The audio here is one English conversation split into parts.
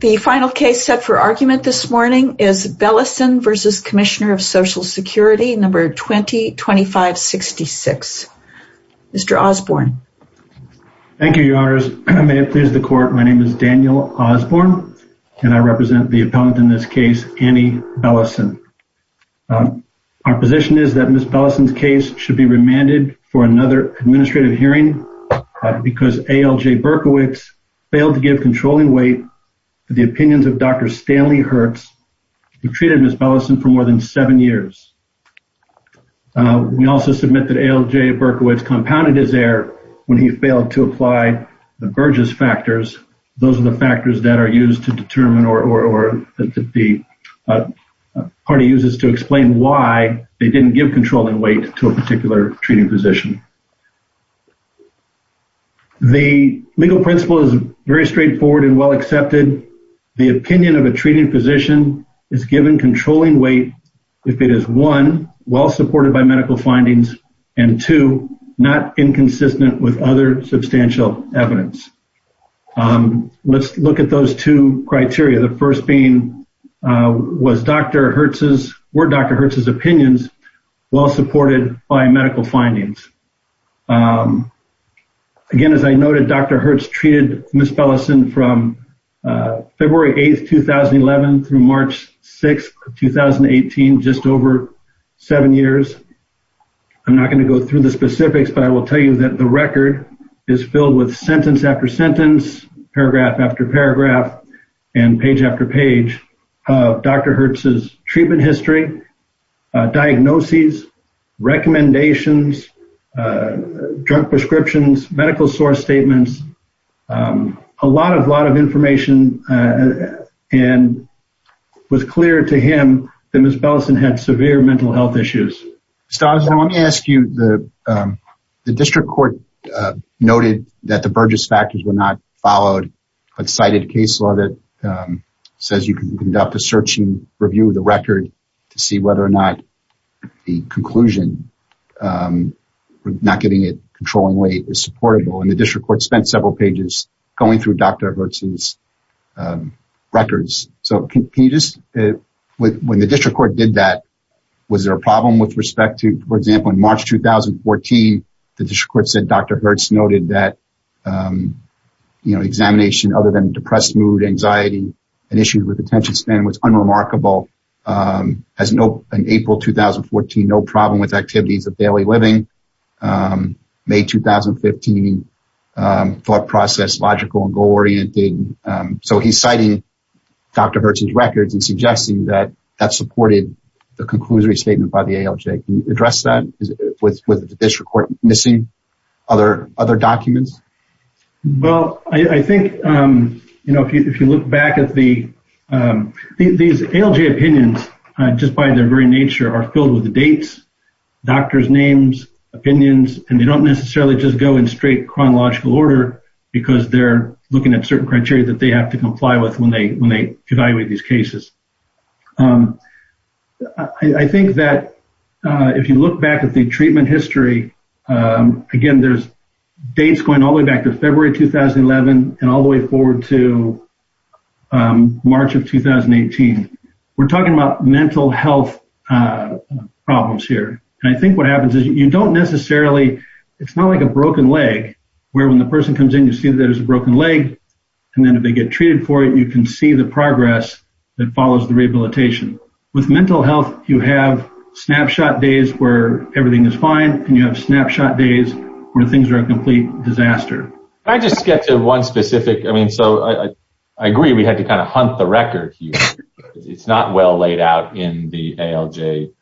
The final case set for argument this morning is Bellesen v. Commisioner of Social Security, No. 20-2566. Mr. Osborne. Thank you, Your Honors. May it please the Court, my name is Daniel Osborne, and I represent the opponent in this case, Annie Bellesen. Our position is that Ms. Bellesen's case should be remanded for another administrative hearing because ALJ Berkowitz failed to give controlling weight to the opinions of Dr. Stanley Hertz, who treated Ms. Bellesen for more than seven years. We also submit that ALJ Berkowitz compounded his error when he failed to apply the Burgess factors. Those are the factors that are used to determine or that the party uses to explain why they didn't give controlling weight to a particular treating physician. The legal principle is very straightforward and well accepted. The opinion of a treating physician is given controlling weight if it is, one, well supported by medical findings, and two, not inconsistent with other substantial evidence. Let's look at those two criteria. The first being, was Dr. Hertz's, were Dr. Hertz's opinions well supported by medical findings? Again, as I noted, Dr. Hertz treated Ms. Bellesen from February 8th, 2011 through March 6th, 2018, just over seven years. I'm not going to go through the specifics, but I will tell you that the record is filled with sentence after sentence, paragraph after paragraph, and page after page of Dr. Hertz's treatment history, diagnoses, recommendations, drug prescriptions, medical source statements, a lot of, lot of information, and it was clear to him that Ms. Bellesen had severe mental health issues. Stiles, now let me ask you, the district court noted that the Burgess factors were not followed. A cited case law that says you can conduct a search and review of the record to see whether or not the conclusion, not getting it, controlling weight is supportable, and the district court spent several pages going through Dr. Hertz's records. So can you just, when the district court did that, was there a problem with respect to, for example, in March, 2014, the district court said Dr. Hertz noted that, you know, examination other than depressed mood, anxiety, and issues with attention span was unremarkable. As no, in April, 2014, no problem with activities of daily living. May, 2015, thought process logical and goal-oriented. So he's citing Dr. Hertz's records and suggesting that supported the conclusory statement by the ALJ. Can you address that with the district court missing other documents? Well, I think, you know, if you look back at the, these ALJ opinions, just by their very nature, are filled with the dates, doctor's names, opinions, and they don't necessarily just go in straight chronological order because they're looking at certain criteria that they have to comply with when they evaluate these cases. I think that if you look back at the treatment history, again, there's dates going all the way back to February, 2011, and all the way forward to March of 2018. We're talking about mental health problems here. And I think what happens is you don't necessarily, it's not like a broken leg, where when the person comes in, you see that there's a broken leg, and then if they get treated for it, you can see the progress that follows the rehabilitation. With mental health, you have snapshot days where everything is fine, and you have snapshot days where things are a complete disaster. I just get to one specific, I mean, so I agree we had to kind of hunt the record here. It's not well laid out in the ALJ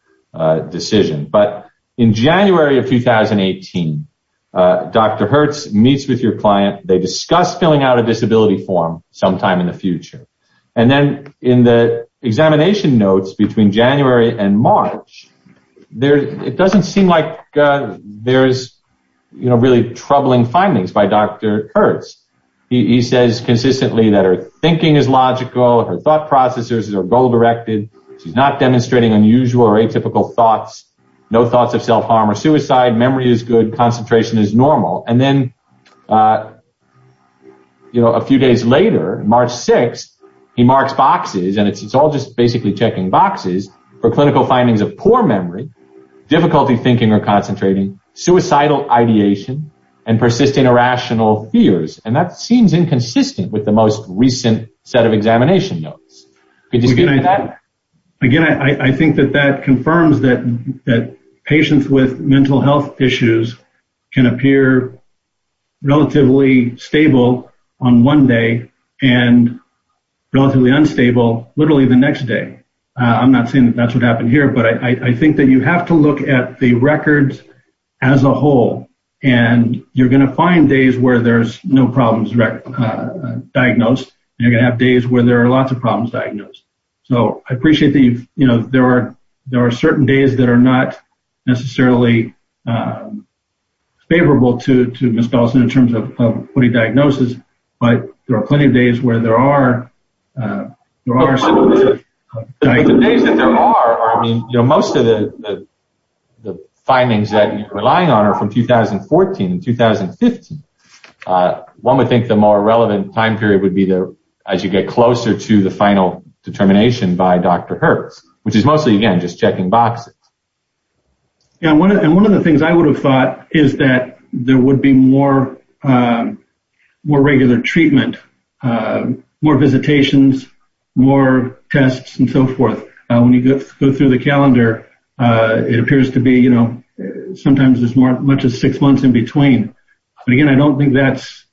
decision. But in January of 2018, Dr. Hertz meets with your client. They discuss filling out a disability form sometime in the future. And then in the examination notes between January and March, it doesn't seem like there's, you know, really troubling findings by Dr. Hertz. He says consistently that her thinking is logical, her thought processes are goal-directed, she's not demonstrating unusual or atypical thoughts, no thoughts of self-harm or suicide, memory is good, concentration is normal. And then, you know, a few days later, March 6th, he marks boxes, and it's all just basically checking boxes for clinical findings of poor memory, difficulty thinking or concentrating, suicidal ideation, and persisting irrational fears. And that seems I think that that confirms that patients with mental health issues can appear relatively stable on one day and relatively unstable literally the next day. I'm not saying that's what happened here, but I think that you have to look at the records as a whole, and you're going to find days where there's no problems diagnosed, and you're going to have days where there are lots of problems diagnosed. So, I appreciate that, you know, there are certain days that are not necessarily favorable to Ms. Bellison in terms of putting diagnosis, but there are plenty of days where there are. The days that there are, I mean, you know, most of the findings that you're relying on are from 2014 and 2015. One would think the more relevant time period would be the, as you get closer to the final determination by Dr. Hertz, which is mostly, again, just checking boxes. Yeah, and one of the things I would have thought is that there would be more regular treatment, more visitations, more tests, and so forth. When you go through the calendar, it appears to be, you know, sometimes as much as six months in between. But again, I don't think that's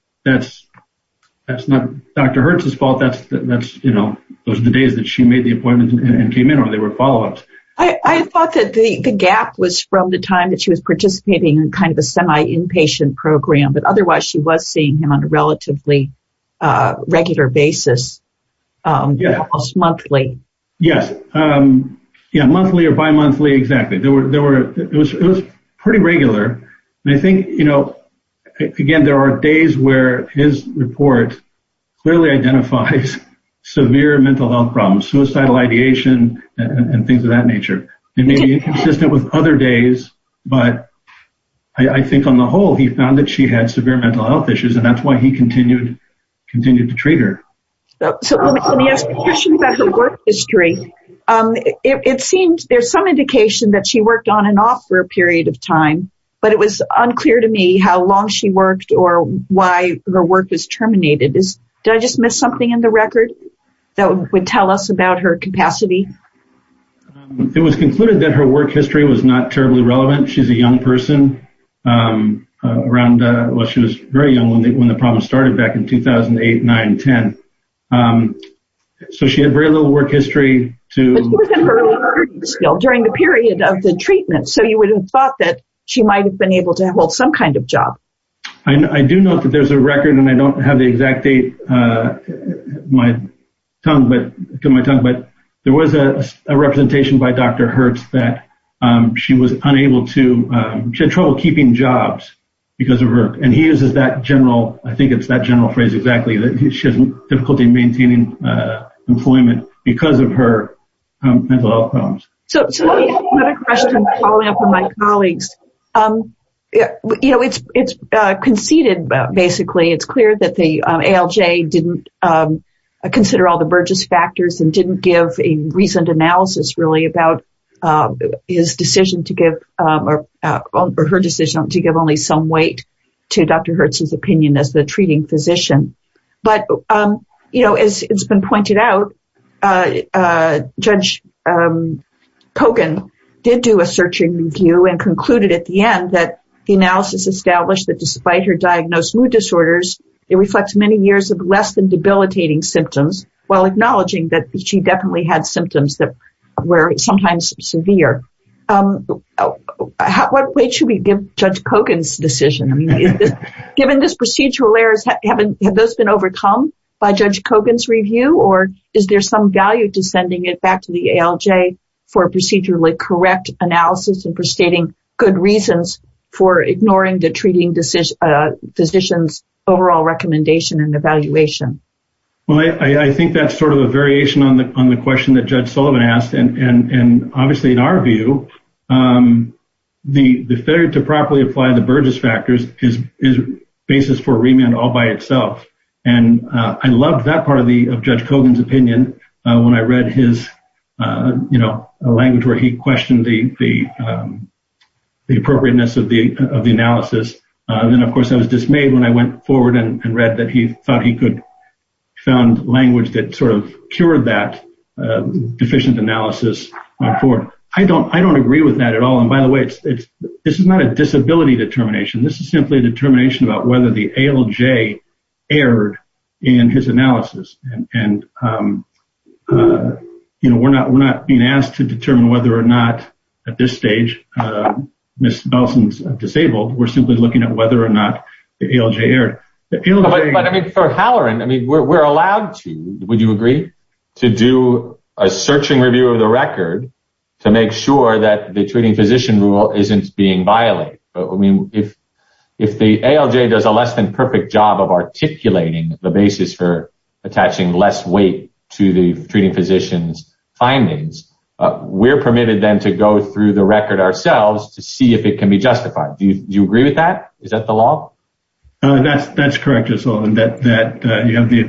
not Dr. Hertz's fault. That's, you know, those are the days that she made the appointment and came in, or they were follow-ups. I thought that the gap was from the time that she was participating in kind of a semi-inpatient program, but otherwise she was seeing him on a relatively regular basis, almost monthly. Yes, monthly or bimonthly, exactly. It was pretty regular, and I think, you know, again, there are days where his report clearly identifies severe mental health problems, suicidal ideation, and things of that nature. It may be inconsistent with other days, but I think on the whole he found that she had severe mental health issues, and that's why he continued to treat her. So let me ask a question about her work history. It seems there's some indication that she worked on and off for a period of time, but it was unclear to me how long she worked or why her work was terminated. Did I just miss something in the record that would tell us about her capacity? It was concluded that her work history was not terribly relevant. She's a young person around, well, she was very young when the problem started back in 2008, 9, 10. So she had very little work history to... During the period of the treatment, so you would have thought that she might have been able to hold some kind of job. I do note that there's a record, and I don't have the exact date in my tongue, but there was a representation by Dr. Hertz that she was unable to... She had trouble keeping jobs because of her... And he uses that general, I think it's that general phrase exactly, that she has difficulty maintaining employment because of her mental health problems. So let me ask another question following up on my colleagues. It's conceded, basically, it's clear that the ALJ didn't consider all the Burgess factors and didn't give a recent analysis really about his decision to give, or her decision to give only some weight to Dr. Hertz's opinion as a treating physician. But as it's been pointed out, Judge Kogan did do a search and review and concluded at the end that the analysis established that despite her diagnosed mood disorders, it reflects many years of less than debilitating symptoms while acknowledging that she definitely had symptoms that were sometimes severe. What weight should we give Judge Kogan's decision? Given this procedural errors, have those been overcome by Judge Kogan's review, or is there some value to sending it back to the ALJ for a procedurally correct analysis and for stating good reasons for ignoring the treating physician's overall recommendation and evaluation? Well, I think that's sort of a variation on the question that Judge Sullivan asked. And his basis for remand all by itself. And I loved that part of Judge Kogan's opinion when I read his language where he questioned the appropriateness of the analysis. Then, of course, I was dismayed when I went forward and read that he thought he could found language that sort of cured that deficient analysis. I don't agree with that at all. And by the way, this is not a disability determination. This is simply a determination about whether the ALJ erred in his analysis. And, you know, we're not being asked to determine whether or not at this stage, Ms. Belson's disabled, we're simply looking at whether or not the ALJ erred. But I mean, for Halloran, I mean, we're allowed to, would you agree, to do a searching review of record to make sure that the treating physician rule isn't being violated? I mean, if the ALJ does a less than perfect job of articulating the basis for attaching less weight to the treating physician's findings, we're permitted then to go through the record ourselves to see if it can be justified. Do you agree with that? Is that the law? That's correct, Judge Sullivan, that you have the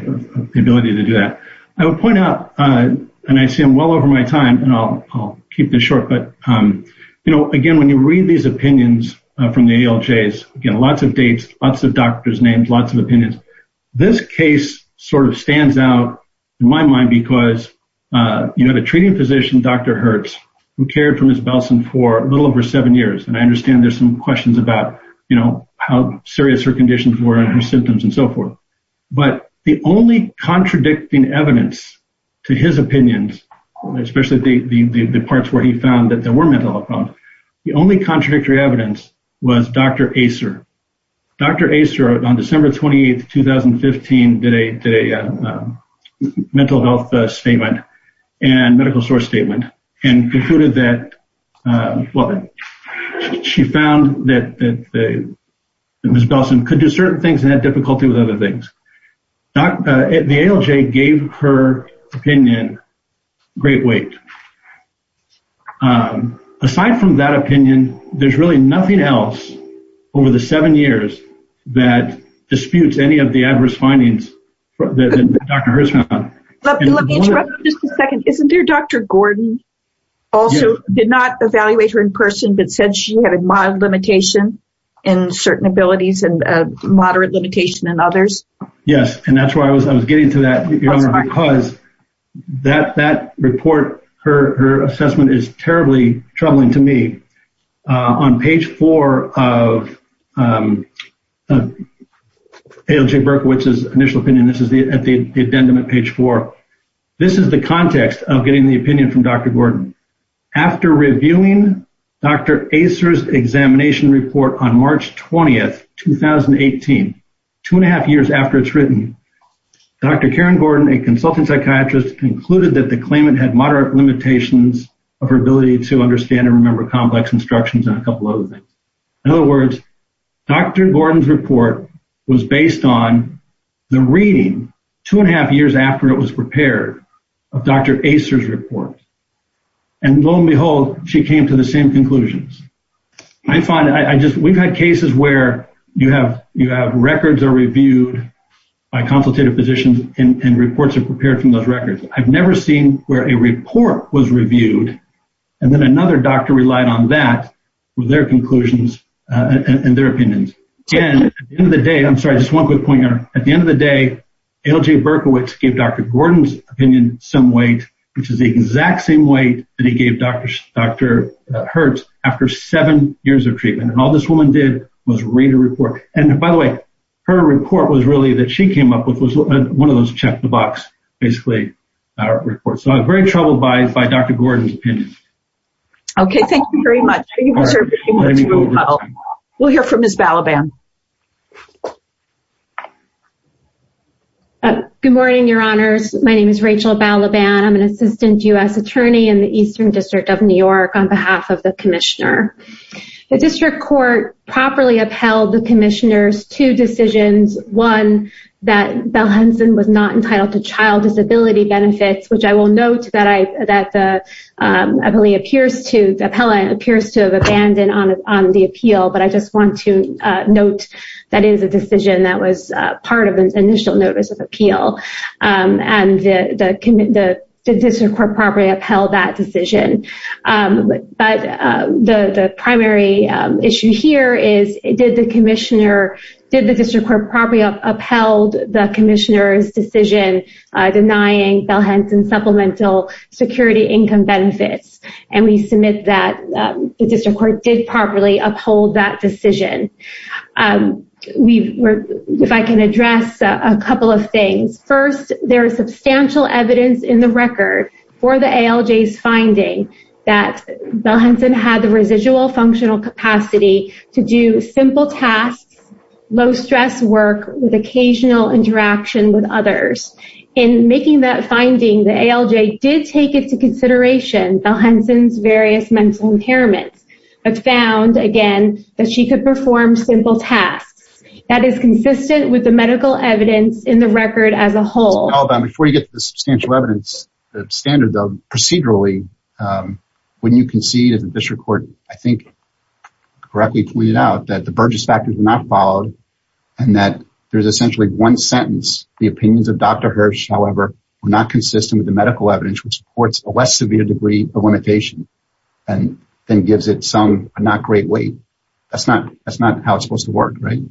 ability to do that. I would point out, and I see I'm well over my time, and I'll keep this short, but, you know, again, when you read these opinions from the ALJs, again, lots of dates, lots of doctors' names, lots of opinions. This case sort of stands out in my mind because, you know, the treating physician, Dr. Hertz, who cared for Ms. Belson for a little over seven years, and I understand there's some questions about, you know, how serious her conditions were and her symptoms and so forth, but the only contradicting evidence to his opinions, especially the parts where he found that there were mental health problems, the only contradictory evidence was Dr. Acer. Dr. Acer, on December 28, 2015, did a mental health statement and medical source had difficulty with other things. The ALJ gave her opinion great weight. Aside from that opinion, there's really nothing else over the seven years that disputes any of the adverse findings that Dr. Hertz found. Let me interrupt for just a second. Isn't there Dr. Gordon also did not evaluate her in person but said she had a mild limitation in certain abilities and moderate limitation in others? Yes, and that's why I was getting to that, because that report, her assessment is terribly troubling to me. On page four of ALJ Berkowitz's initial opinion, this is at the addendum at page four, this is the context of getting the opinion from Dr. Gordon. After reviewing Dr. Acer's examination report on March 20, 2018, two and a half years after it's written, Dr. Karen Gordon, a consultant psychiatrist, concluded that the claimant had moderate limitations of her ability to understand and remember complex instructions and a couple other things. In other words, Dr. Gordon's report was based on the reading two and a half years after it was prepared of Dr. Acer's report, and lo and behold, she came to the same conclusions. We've had cases where you have records that are reviewed by consultative physicians and reports are prepared from those records. I've never seen where a report was reviewed and then another doctor relied on that with their conclusions and their opinions. At the end of the day, I'm sorry, just one quick point here. At the end of the day, ALJ Berkowitz gave Dr. Gordon's opinion some weight, which is the exact same weight that he gave Dr. Hertz after seven years of treatment, and all this woman did was read a report. By the way, her report was really that she came up with was one of those check the box, basically, reports. I was very troubled by Dr. Gordon's opinion. Okay, thank you very much. We'll hear from Ms. Balaban. Good morning, your honors. My name is Rachel Balaban. I'm an assistant U.S. attorney in the Eastern District of New York on behalf of the commissioner. The district court properly upheld the commissioner's two decisions. One, that Bell-Henson was not entitled to child disability benefits, which I will note that the appellant appears to have abandoned on the appeal. I just want to note that is a decision that was part of an initial notice of appeal. The district court probably upheld that decision. The primary issue here is, did the district court probably upheld the commissioner's decision denying Bell-Henson supplemental security income benefits? We submit that the district court did properly uphold that decision. If I can address a couple of things. First, there is substantial evidence in the record for the ALJ's finding that Bell-Henson had the residual functional capacity to do simple tasks, low-stress work, with occasional interaction with others. In making that finding, the ALJ did take into consideration Bell-Henson's various mental impairments, but found, again, that she could perform simple tasks. That is consistent with the medical evidence in the record as a whole. Before you get to the substantial standard, procedurally, when you concede, as the district court correctly pointed out, that the Burgess factors were not followed, and that there is essentially one sentence, the opinions of Dr. Hirsch, however, were not consistent with the medical evidence, which supports a less severe degree of limitation, and then gives it a not great weight. That is not how it is supposed to work, right?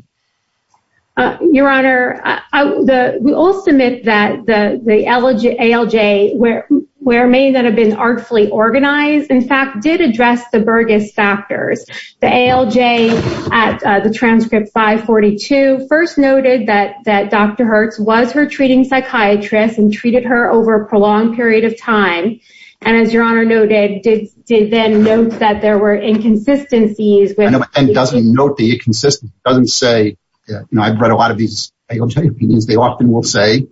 Your Honor, we all submit that the ALJ, where it may not have been artfully organized, in fact, did address the Burgess factors. The ALJ, at the transcript 542, first noted that Dr. Hirsch was her treating psychiatrist and treated her over a prolonged period of time, and as Your Honor noted, did then note that there were inconsistencies. And doesn't note the inconsistency. It doesn't say, you know, I've read a lot of these ALJ opinions. They often will say,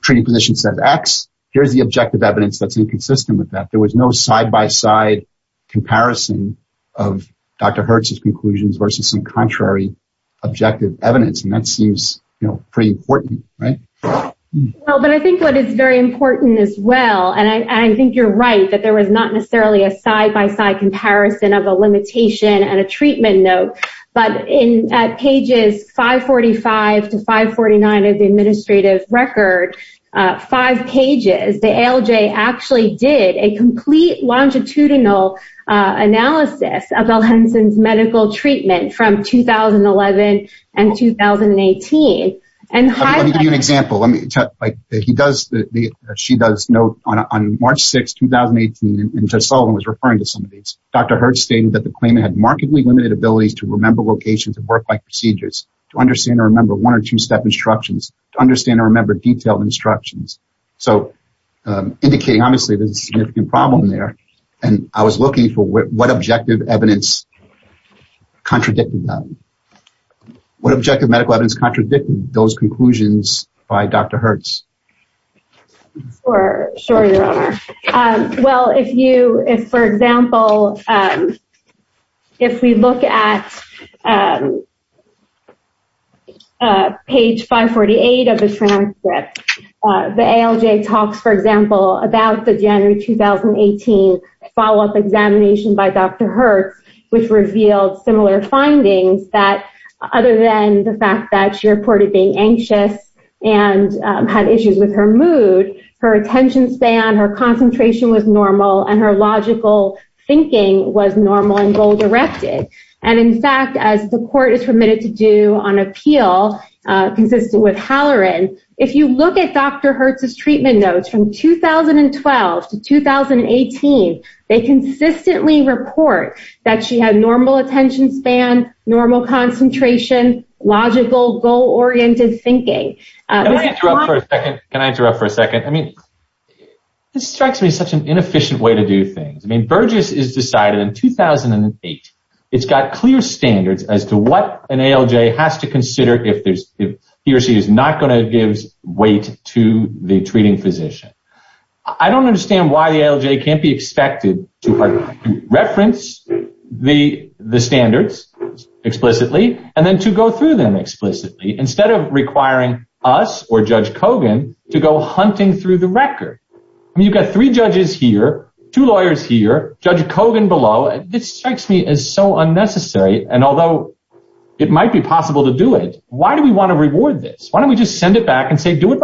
treating physician says X. Here's the objective evidence that's inconsistent with that. There was no side-by-side comparison of Dr. Hirsch's conclusions versus some contrary objective evidence, and that seems, you know, pretty important, right? Well, but I think what is very important as well, and I think you're right, that there was not a treatment note, but in pages 545 to 549 of the administrative record, five pages, the ALJ actually did a complete longitudinal analysis of Al Henson's medical treatment from 2011 and 2018. Let me give you an example. She does note on March 6, 2018, Judge Sullivan was referring to some of these. Dr. Hirsch stated that the claimant had markedly limited abilities to remember locations and work-like procedures, to understand and remember one or two-step instructions, to understand and remember detailed instructions. So, indicating obviously there's a significant problem there, and I was looking for what objective evidence contradicted them. What objective medical evidence contradicted those conclusions by Dr. Hirsch? Sure, sure, your honor. Well, if you, if for example, if we look at page 548 of the transcript, the ALJ talks, for example, about the January 2018 follow-up examination by Dr. Hirsch, which revealed similar findings that, other than the fact that she and had issues with her mood, her attention span, her concentration was normal, and her logical thinking was normal and goal-directed. And in fact, as the court is permitted to do on appeal, consistent with Halloran, if you look at Dr. Hirsch's treatment notes from 2012 to 2018, they consistently report that she had normal attention span, normal concentration, logical, goal-oriented thinking. Can I interrupt for a second? Can I interrupt for a second? I mean, this strikes me as such an inefficient way to do things. I mean, Burgess has decided in 2008, it's got clear standards as to what an ALJ has to consider if he or she is not going to give weight to the treating physician. I don't understand why the ALJ can't be expected to reference the standards explicitly and then to go through them explicitly, instead of requiring us or Judge Kogan to go hunting through the record. I mean, you've got three judges here, two lawyers here, Judge Kogan below. This strikes me as so unnecessary, and although it might be possible to do it, why do we want to reward this? Why don't we just send it out? You know,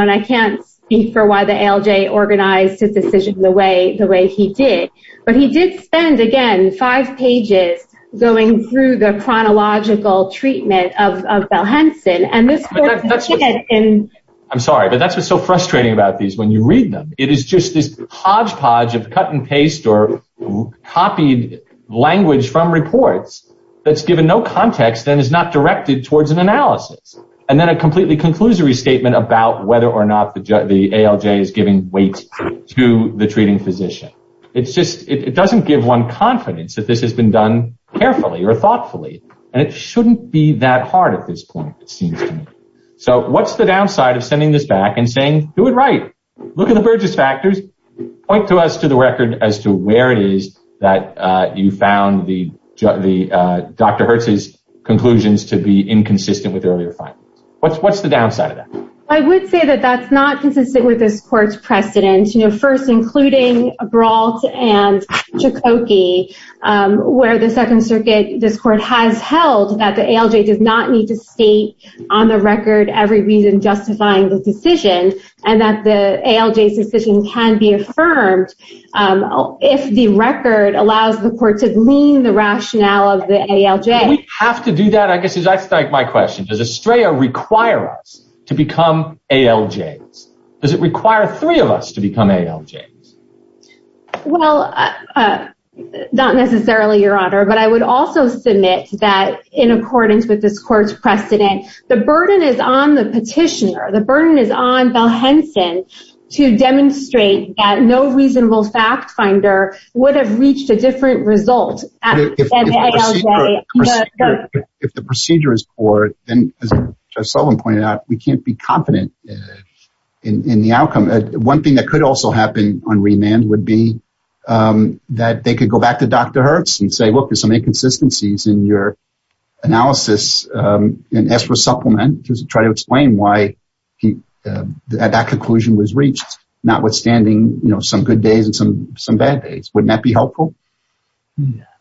and I can't speak for why the ALJ organized his decision the way he did, but he did spend, again, five pages going through the chronological treatment of Bell-Henson. I'm sorry, but that's what's so frustrating about these when you read them. It is just this hodgepodge of cut and paste or copied language from reports that's given no context and is not directed towards an analysis, and then a completely conclusory statement about whether or not the ALJ is giving weight to the treating physician. It doesn't give one confidence that this has been done carefully or thoughtfully, and it shouldn't be that hard at this point, it seems to me. So what's the downside of sending this back and saying, do it right, look at the Burgess factors, point to us to the record as to where it is that you found Dr. Bell-Henson to be inconsistent with earlier findings? What's the downside of that? I would say that that's not consistent with this court's precedent. You know, first, including Brault and Chukoki, where the Second Circuit, this court has held that the ALJ does not need to state on the record every reason justifying the decision, and that the ALJ's decision can be affirmed if the record allows the court to glean the rationale of the ALJ. Do we have to do that? I guess that's my question. Does ASTREA require us to become ALJs? Does it require three of us to become ALJs? Well, not necessarily, Your Honor, but I would also submit that in accordance with this court's precedent, the burden is on the petitioner, the burden is on Bell-Henson to demonstrate that no reasonable fact finder would have If the procedure is poor, then, as Judge Sullivan pointed out, we can't be confident in the outcome. One thing that could also happen on remand would be that they could go back to Dr. Hertz and say, look, there's some inconsistencies in your analysis, and ask for a supplement to try to explain why that conclusion was reached, notwithstanding some good days and some bad days. Wouldn't that be helpful?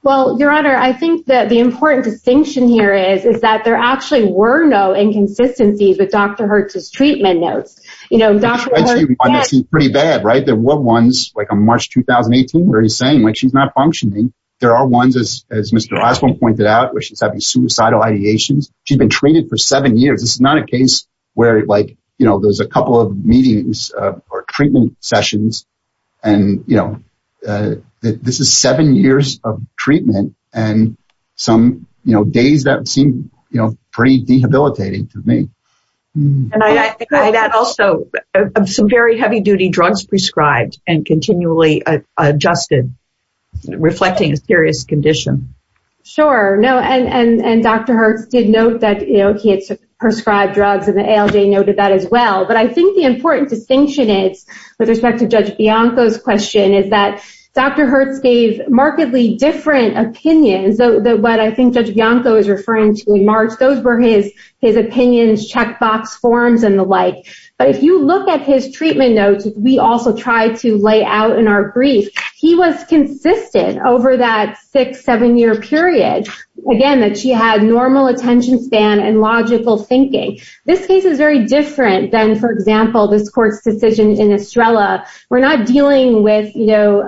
Well, Your Honor, I think that the important distinction here is, is that there actually were no inconsistencies with Dr. Hertz's treatment notes. Pretty bad, right? There were ones, like on March 2018, where he's saying she's not functioning. There are ones, as Mr. Osborne pointed out, where she's having suicidal ideations. She's been treated for seven years. This is not a case where there's a couple of meetings or treatment sessions and, you know, this is seven years of treatment and some, you know, days that seem, you know, pretty debilitating to me. And I think that also, some very heavy-duty drugs prescribed and continually adjusted, reflecting a serious condition. Sure, no, and Dr. Hertz did note that, you know, he had prescribed drugs and the ALJ noted that as well. But I think the important distinction is, with respect to Judge Bianco's question, is that Dr. Hertz gave markedly different opinions. What I think Judge Bianco is referring to in March, those were his opinions, checkbox forms, and the like. But if you look at his treatment notes, we also try to lay out in our brief, he was consistent over that six, seven-year period, again, that she had normal attention span and logical thinking. This case is very different than, for example, this court's decision in Estrella. We're not dealing with, you know,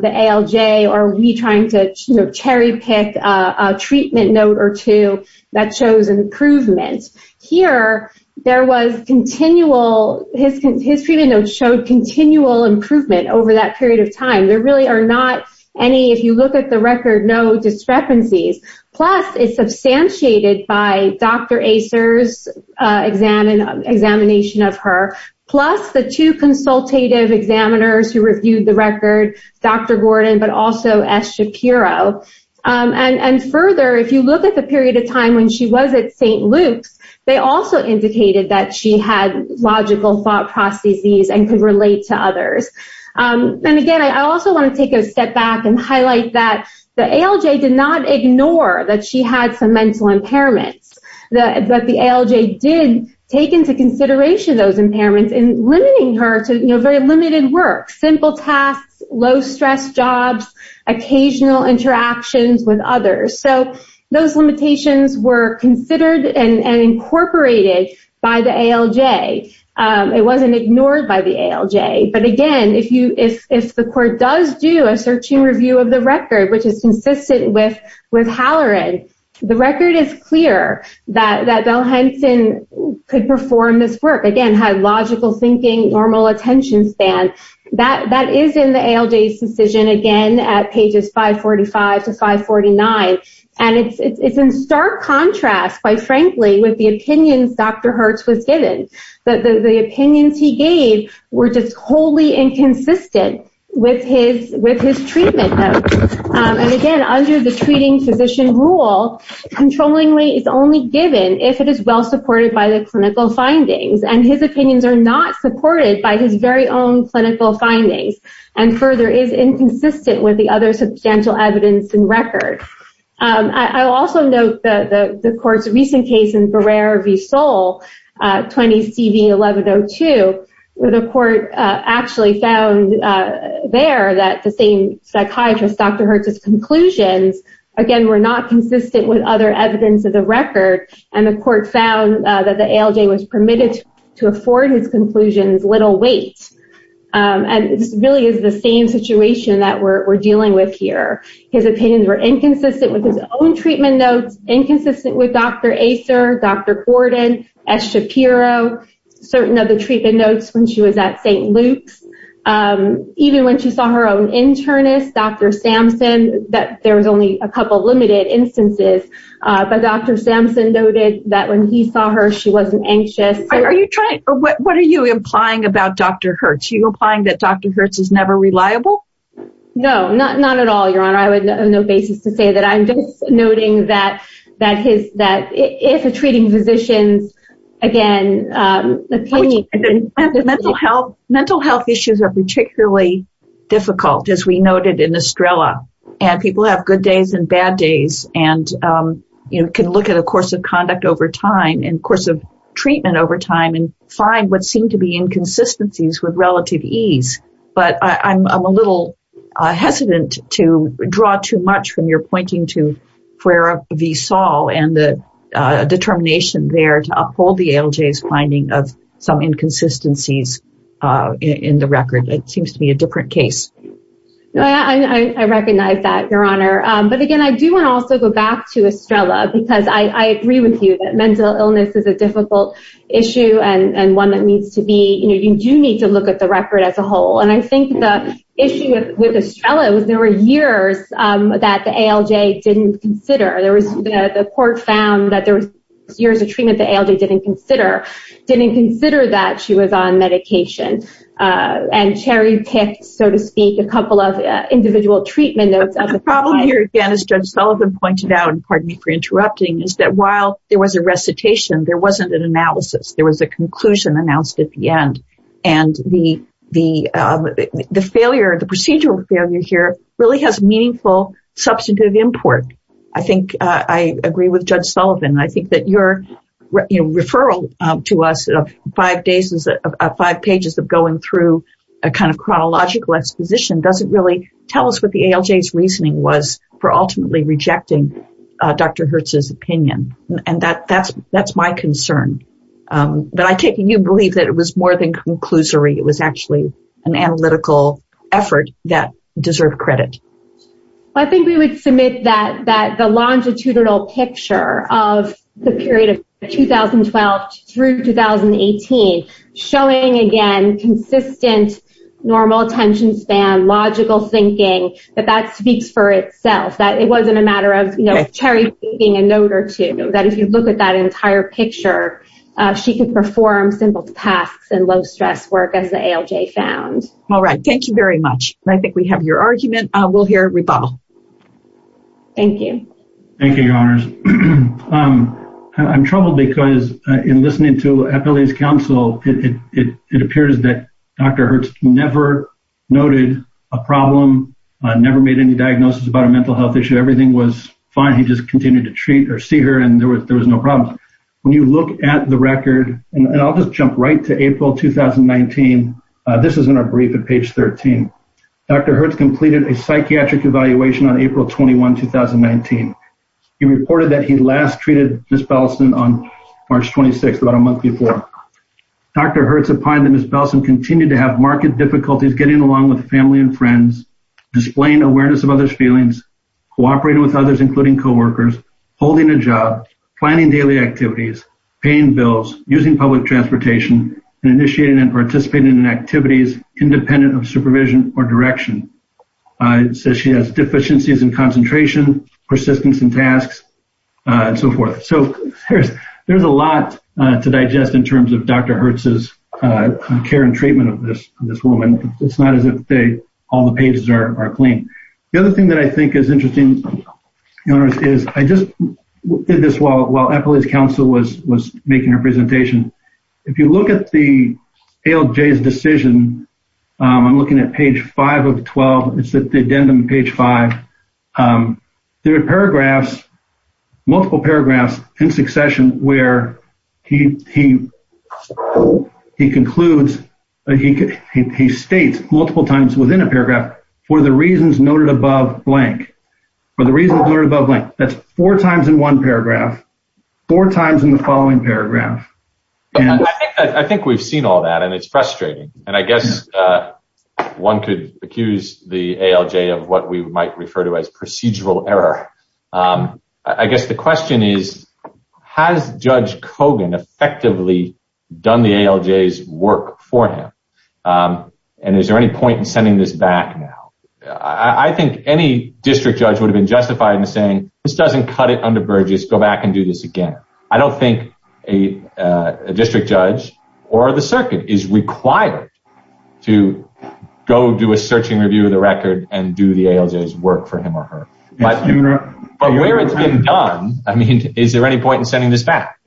the ALJ or we trying to, you know, cherry pick a treatment note or two that shows improvement. Here, there was continual, his treatment notes showed continual improvement over that period of time. There really are not any, if you look at the record, no discrepancies. Plus, it's substantiated by Dr. Acer's examination of her, plus the two consultative examiners who reviewed the record, Dr. Gordon, but also S. Shapiro. And further, if you look at the period of time when she was at St. Luke's, they also indicated that she had logical thought processes and could relate to others. And again, I also want to take a step back and highlight that the ALJ did not ignore that she had some mental impairments, but the ALJ did take into consideration those impairments in limiting her to, you know, very limited work, simple tasks, low-stress jobs, occasional interactions with others. So, those limitations were considered and incorporated by the ALJ. It wasn't ignored by the ALJ, but again, if the court does do a searching review of the record, which is consistent with Halloran, the record is clear that Bell-Henson could perform this work, again, had logical thinking, normal attention span. That is in the ALJ's decision, again, at pages 545 to 549, and it's in stark contrast, quite frankly, with the opinions Dr. Hertz was given. The opinions he gave were just wholly inconsistent with his treatment. And again, under the treating physician rule, controllingly is only given if it is well supported by the clinical findings, and his opinions are not supported by his very own clinical findings, and further, is inconsistent with the other substantial evidence in record. I also note that the court's recent case in Barrer v. Soule, 20-CV-1102, the court actually found there that the same psychiatrist, Dr. Hertz's conclusions, again, were not consistent with other evidence of the record, and the court found that the ALJ was permitted to afford his conclusions little weight. And this really is the same situation that we're dealing with here. His opinions were inconsistent with his own treatment notes, inconsistent with Dr. Acer, Dr. Gordon, S. Shapiro, certain of the treatment notes when she was at St. Luke's, even when she saw her own internist, Dr. Sampson, that there was only a couple of limited instances, but Dr. Sampson noted that when he saw her, she wasn't anxious. What are you implying about Dr. Hertz? Are you implying that Dr. Hertz is never reliable? No, not at all, Your Honor. I have no basis to say that. I'm just noting that if a treating physician's, again, opinion... Mental health issues are particularly difficult, as we noted in Estrella, and people have good days and bad days, and can look at a course of conduct over time, and course of treatment over time, and find what seem to be inconsistencies with relative ease. But I'm a little hesitant to draw too much from your pointing to Prera v. Saul, and the determination there to uphold the ALJ's finding of some inconsistencies in the record. It seems to be a different case. I recognize that, Your Honor. But again, I do want to also go back to Estrella, because I agree with you that mental illness is a difficult issue, and one that needs to be... You do need to look at the record as a whole. And I think the issue with Estrella was there were years that the ALJ didn't consider. The court found that there were years of treatment the ALJ didn't consider, didn't consider that she was on medication, and cherry-picked, so to speak, a couple of individual treatment notes. The problem here, again, as Judge Sullivan pointed out, and pardon me for interrupting, is that while there was a recitation, there wasn't an analysis. There was a conclusion announced at the end. And the failure, the procedural failure here really has meaningful substantive import. I think I agree with Judge Sullivan. I think that your referral to us of five pages of going through a kind of chronological exposition doesn't really tell us what the ALJ's reasoning was for ultimately rejecting Dr. Hertz's opinion. And that's my concern. But I take it you believe that it was more than conclusory. It was actually an analytical effort that deserved credit. I think we would submit that the longitudinal picture of the period of 2012 through 2018, showing, again, consistent normal attention span, logical thinking, that that speaks for itself, that it wasn't a matter of cherry-picking a note or two, that if you look at that entire picture, she could perform simple tasks and low-stress work as the ALJ found. All right. Thank you very much. I think we have your argument. We'll hear rebuttal. Thank you. Thank you, Your Honors. I'm troubled because in listening to Appellee's counsel, it appears that Dr. Hertz never noted a problem, never made any diagnosis about a mental health issue. Everything was fine. He just continued to treat or see her and there was no problem. When you look at the record, and I'll just jump right to April 2019, this is in our brief at page 13, Dr. Hertz completed a psychiatric evaluation on April 21, 2019. He reported that he last treated Ms. Bellison on March 26th, about a month before. Dr. Hertz opined that Ms. Bellison continued to have marked difficulties getting along with family and friends, displaying awareness of others' feelings, cooperating with others, including coworkers, holding a job, planning daily activities, paying bills, using public transportation, and initiating and participating in activities independent of supervision or direction. It says she has deficiencies in concentration, persistence in tasks, and so forth. There's a lot to digest in terms of Dr. Hertz's care and treatment of this woman. It's not as if all the pages are clean. The other thing that I think is interesting, Your Honors, is I just did this while Appellee's making her presentation. If you look at the ALJ's decision, I'm looking at page 5 of 12. It's at the addendum, page 5. There are paragraphs, multiple paragraphs, in succession where he concludes, he states multiple times within a paragraph, for the reasons noted above blank. For the reasons noted above blank. That's four times in one paragraph, four times in the following paragraph. I think we've seen all that, and it's frustrating. And I guess one could accuse the ALJ of what we might refer to as procedural error. I guess the question is, has Judge Kogan effectively done the ALJ's work for him? And is there any point in sending this back now? I think any district judge would have been justified in saying, this doesn't cut it under Burgess, go back and do this again. I don't think a district judge or the circuit is required to go do a searching review of the record and do the ALJ's work for him or her. But where it's been done, I mean, is there any point in sending this back?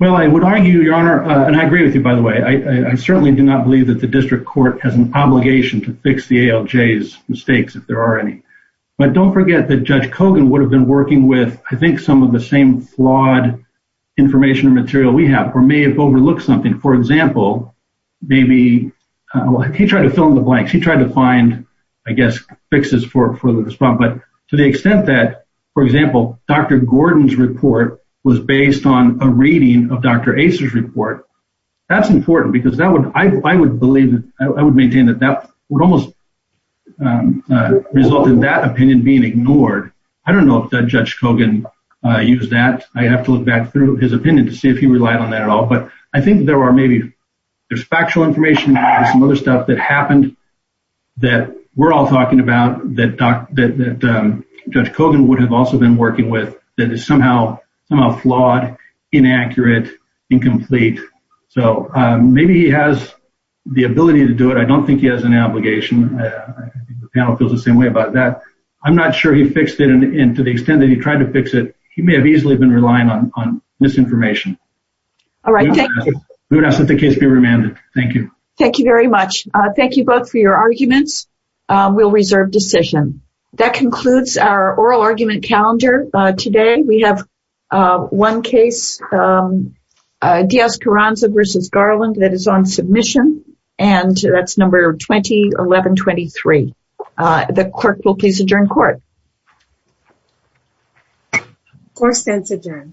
Well, I would argue, Your Honor, and I agree with you, by the way, I certainly do not believe that the district court has an obligation to fix the ALJ's mistakes, if there are any. But don't forget that Judge Kogan would have been working with, I think, some of the same flawed information and material we have, or may have overlooked something. For example, maybe he tried to fill in the blanks. He tried to find, I guess, fixes for the response. But to the extent that, for example, Dr. Gordon's report was based on a reading of Dr. That's important because that would, I would believe, I would maintain that that would almost result in that opinion being ignored. I don't know if Judge Kogan used that. I have to look back through his opinion to see if he relied on that at all. But I think there are maybe, there's factual information, some other stuff that happened that we're all talking about that Judge Kogan would have also been working with that is somehow flawed, inaccurate, incomplete. So maybe he has the ability to do it. I don't think he has an obligation. The panel feels the same way about that. I'm not sure he fixed it. And to the extent that he tried to fix it, he may have easily been relying on misinformation. All right. Thank you. We will not let the case be remanded. Thank you. Thank you very much. Thank you both for your arguments. We'll reserve decision. That concludes our oral argument calendar. Today we have one case, Diaz Carranza versus Garland that is on submission. And that's number 2011-23. The clerk will please adjourn court. Court stands adjourned.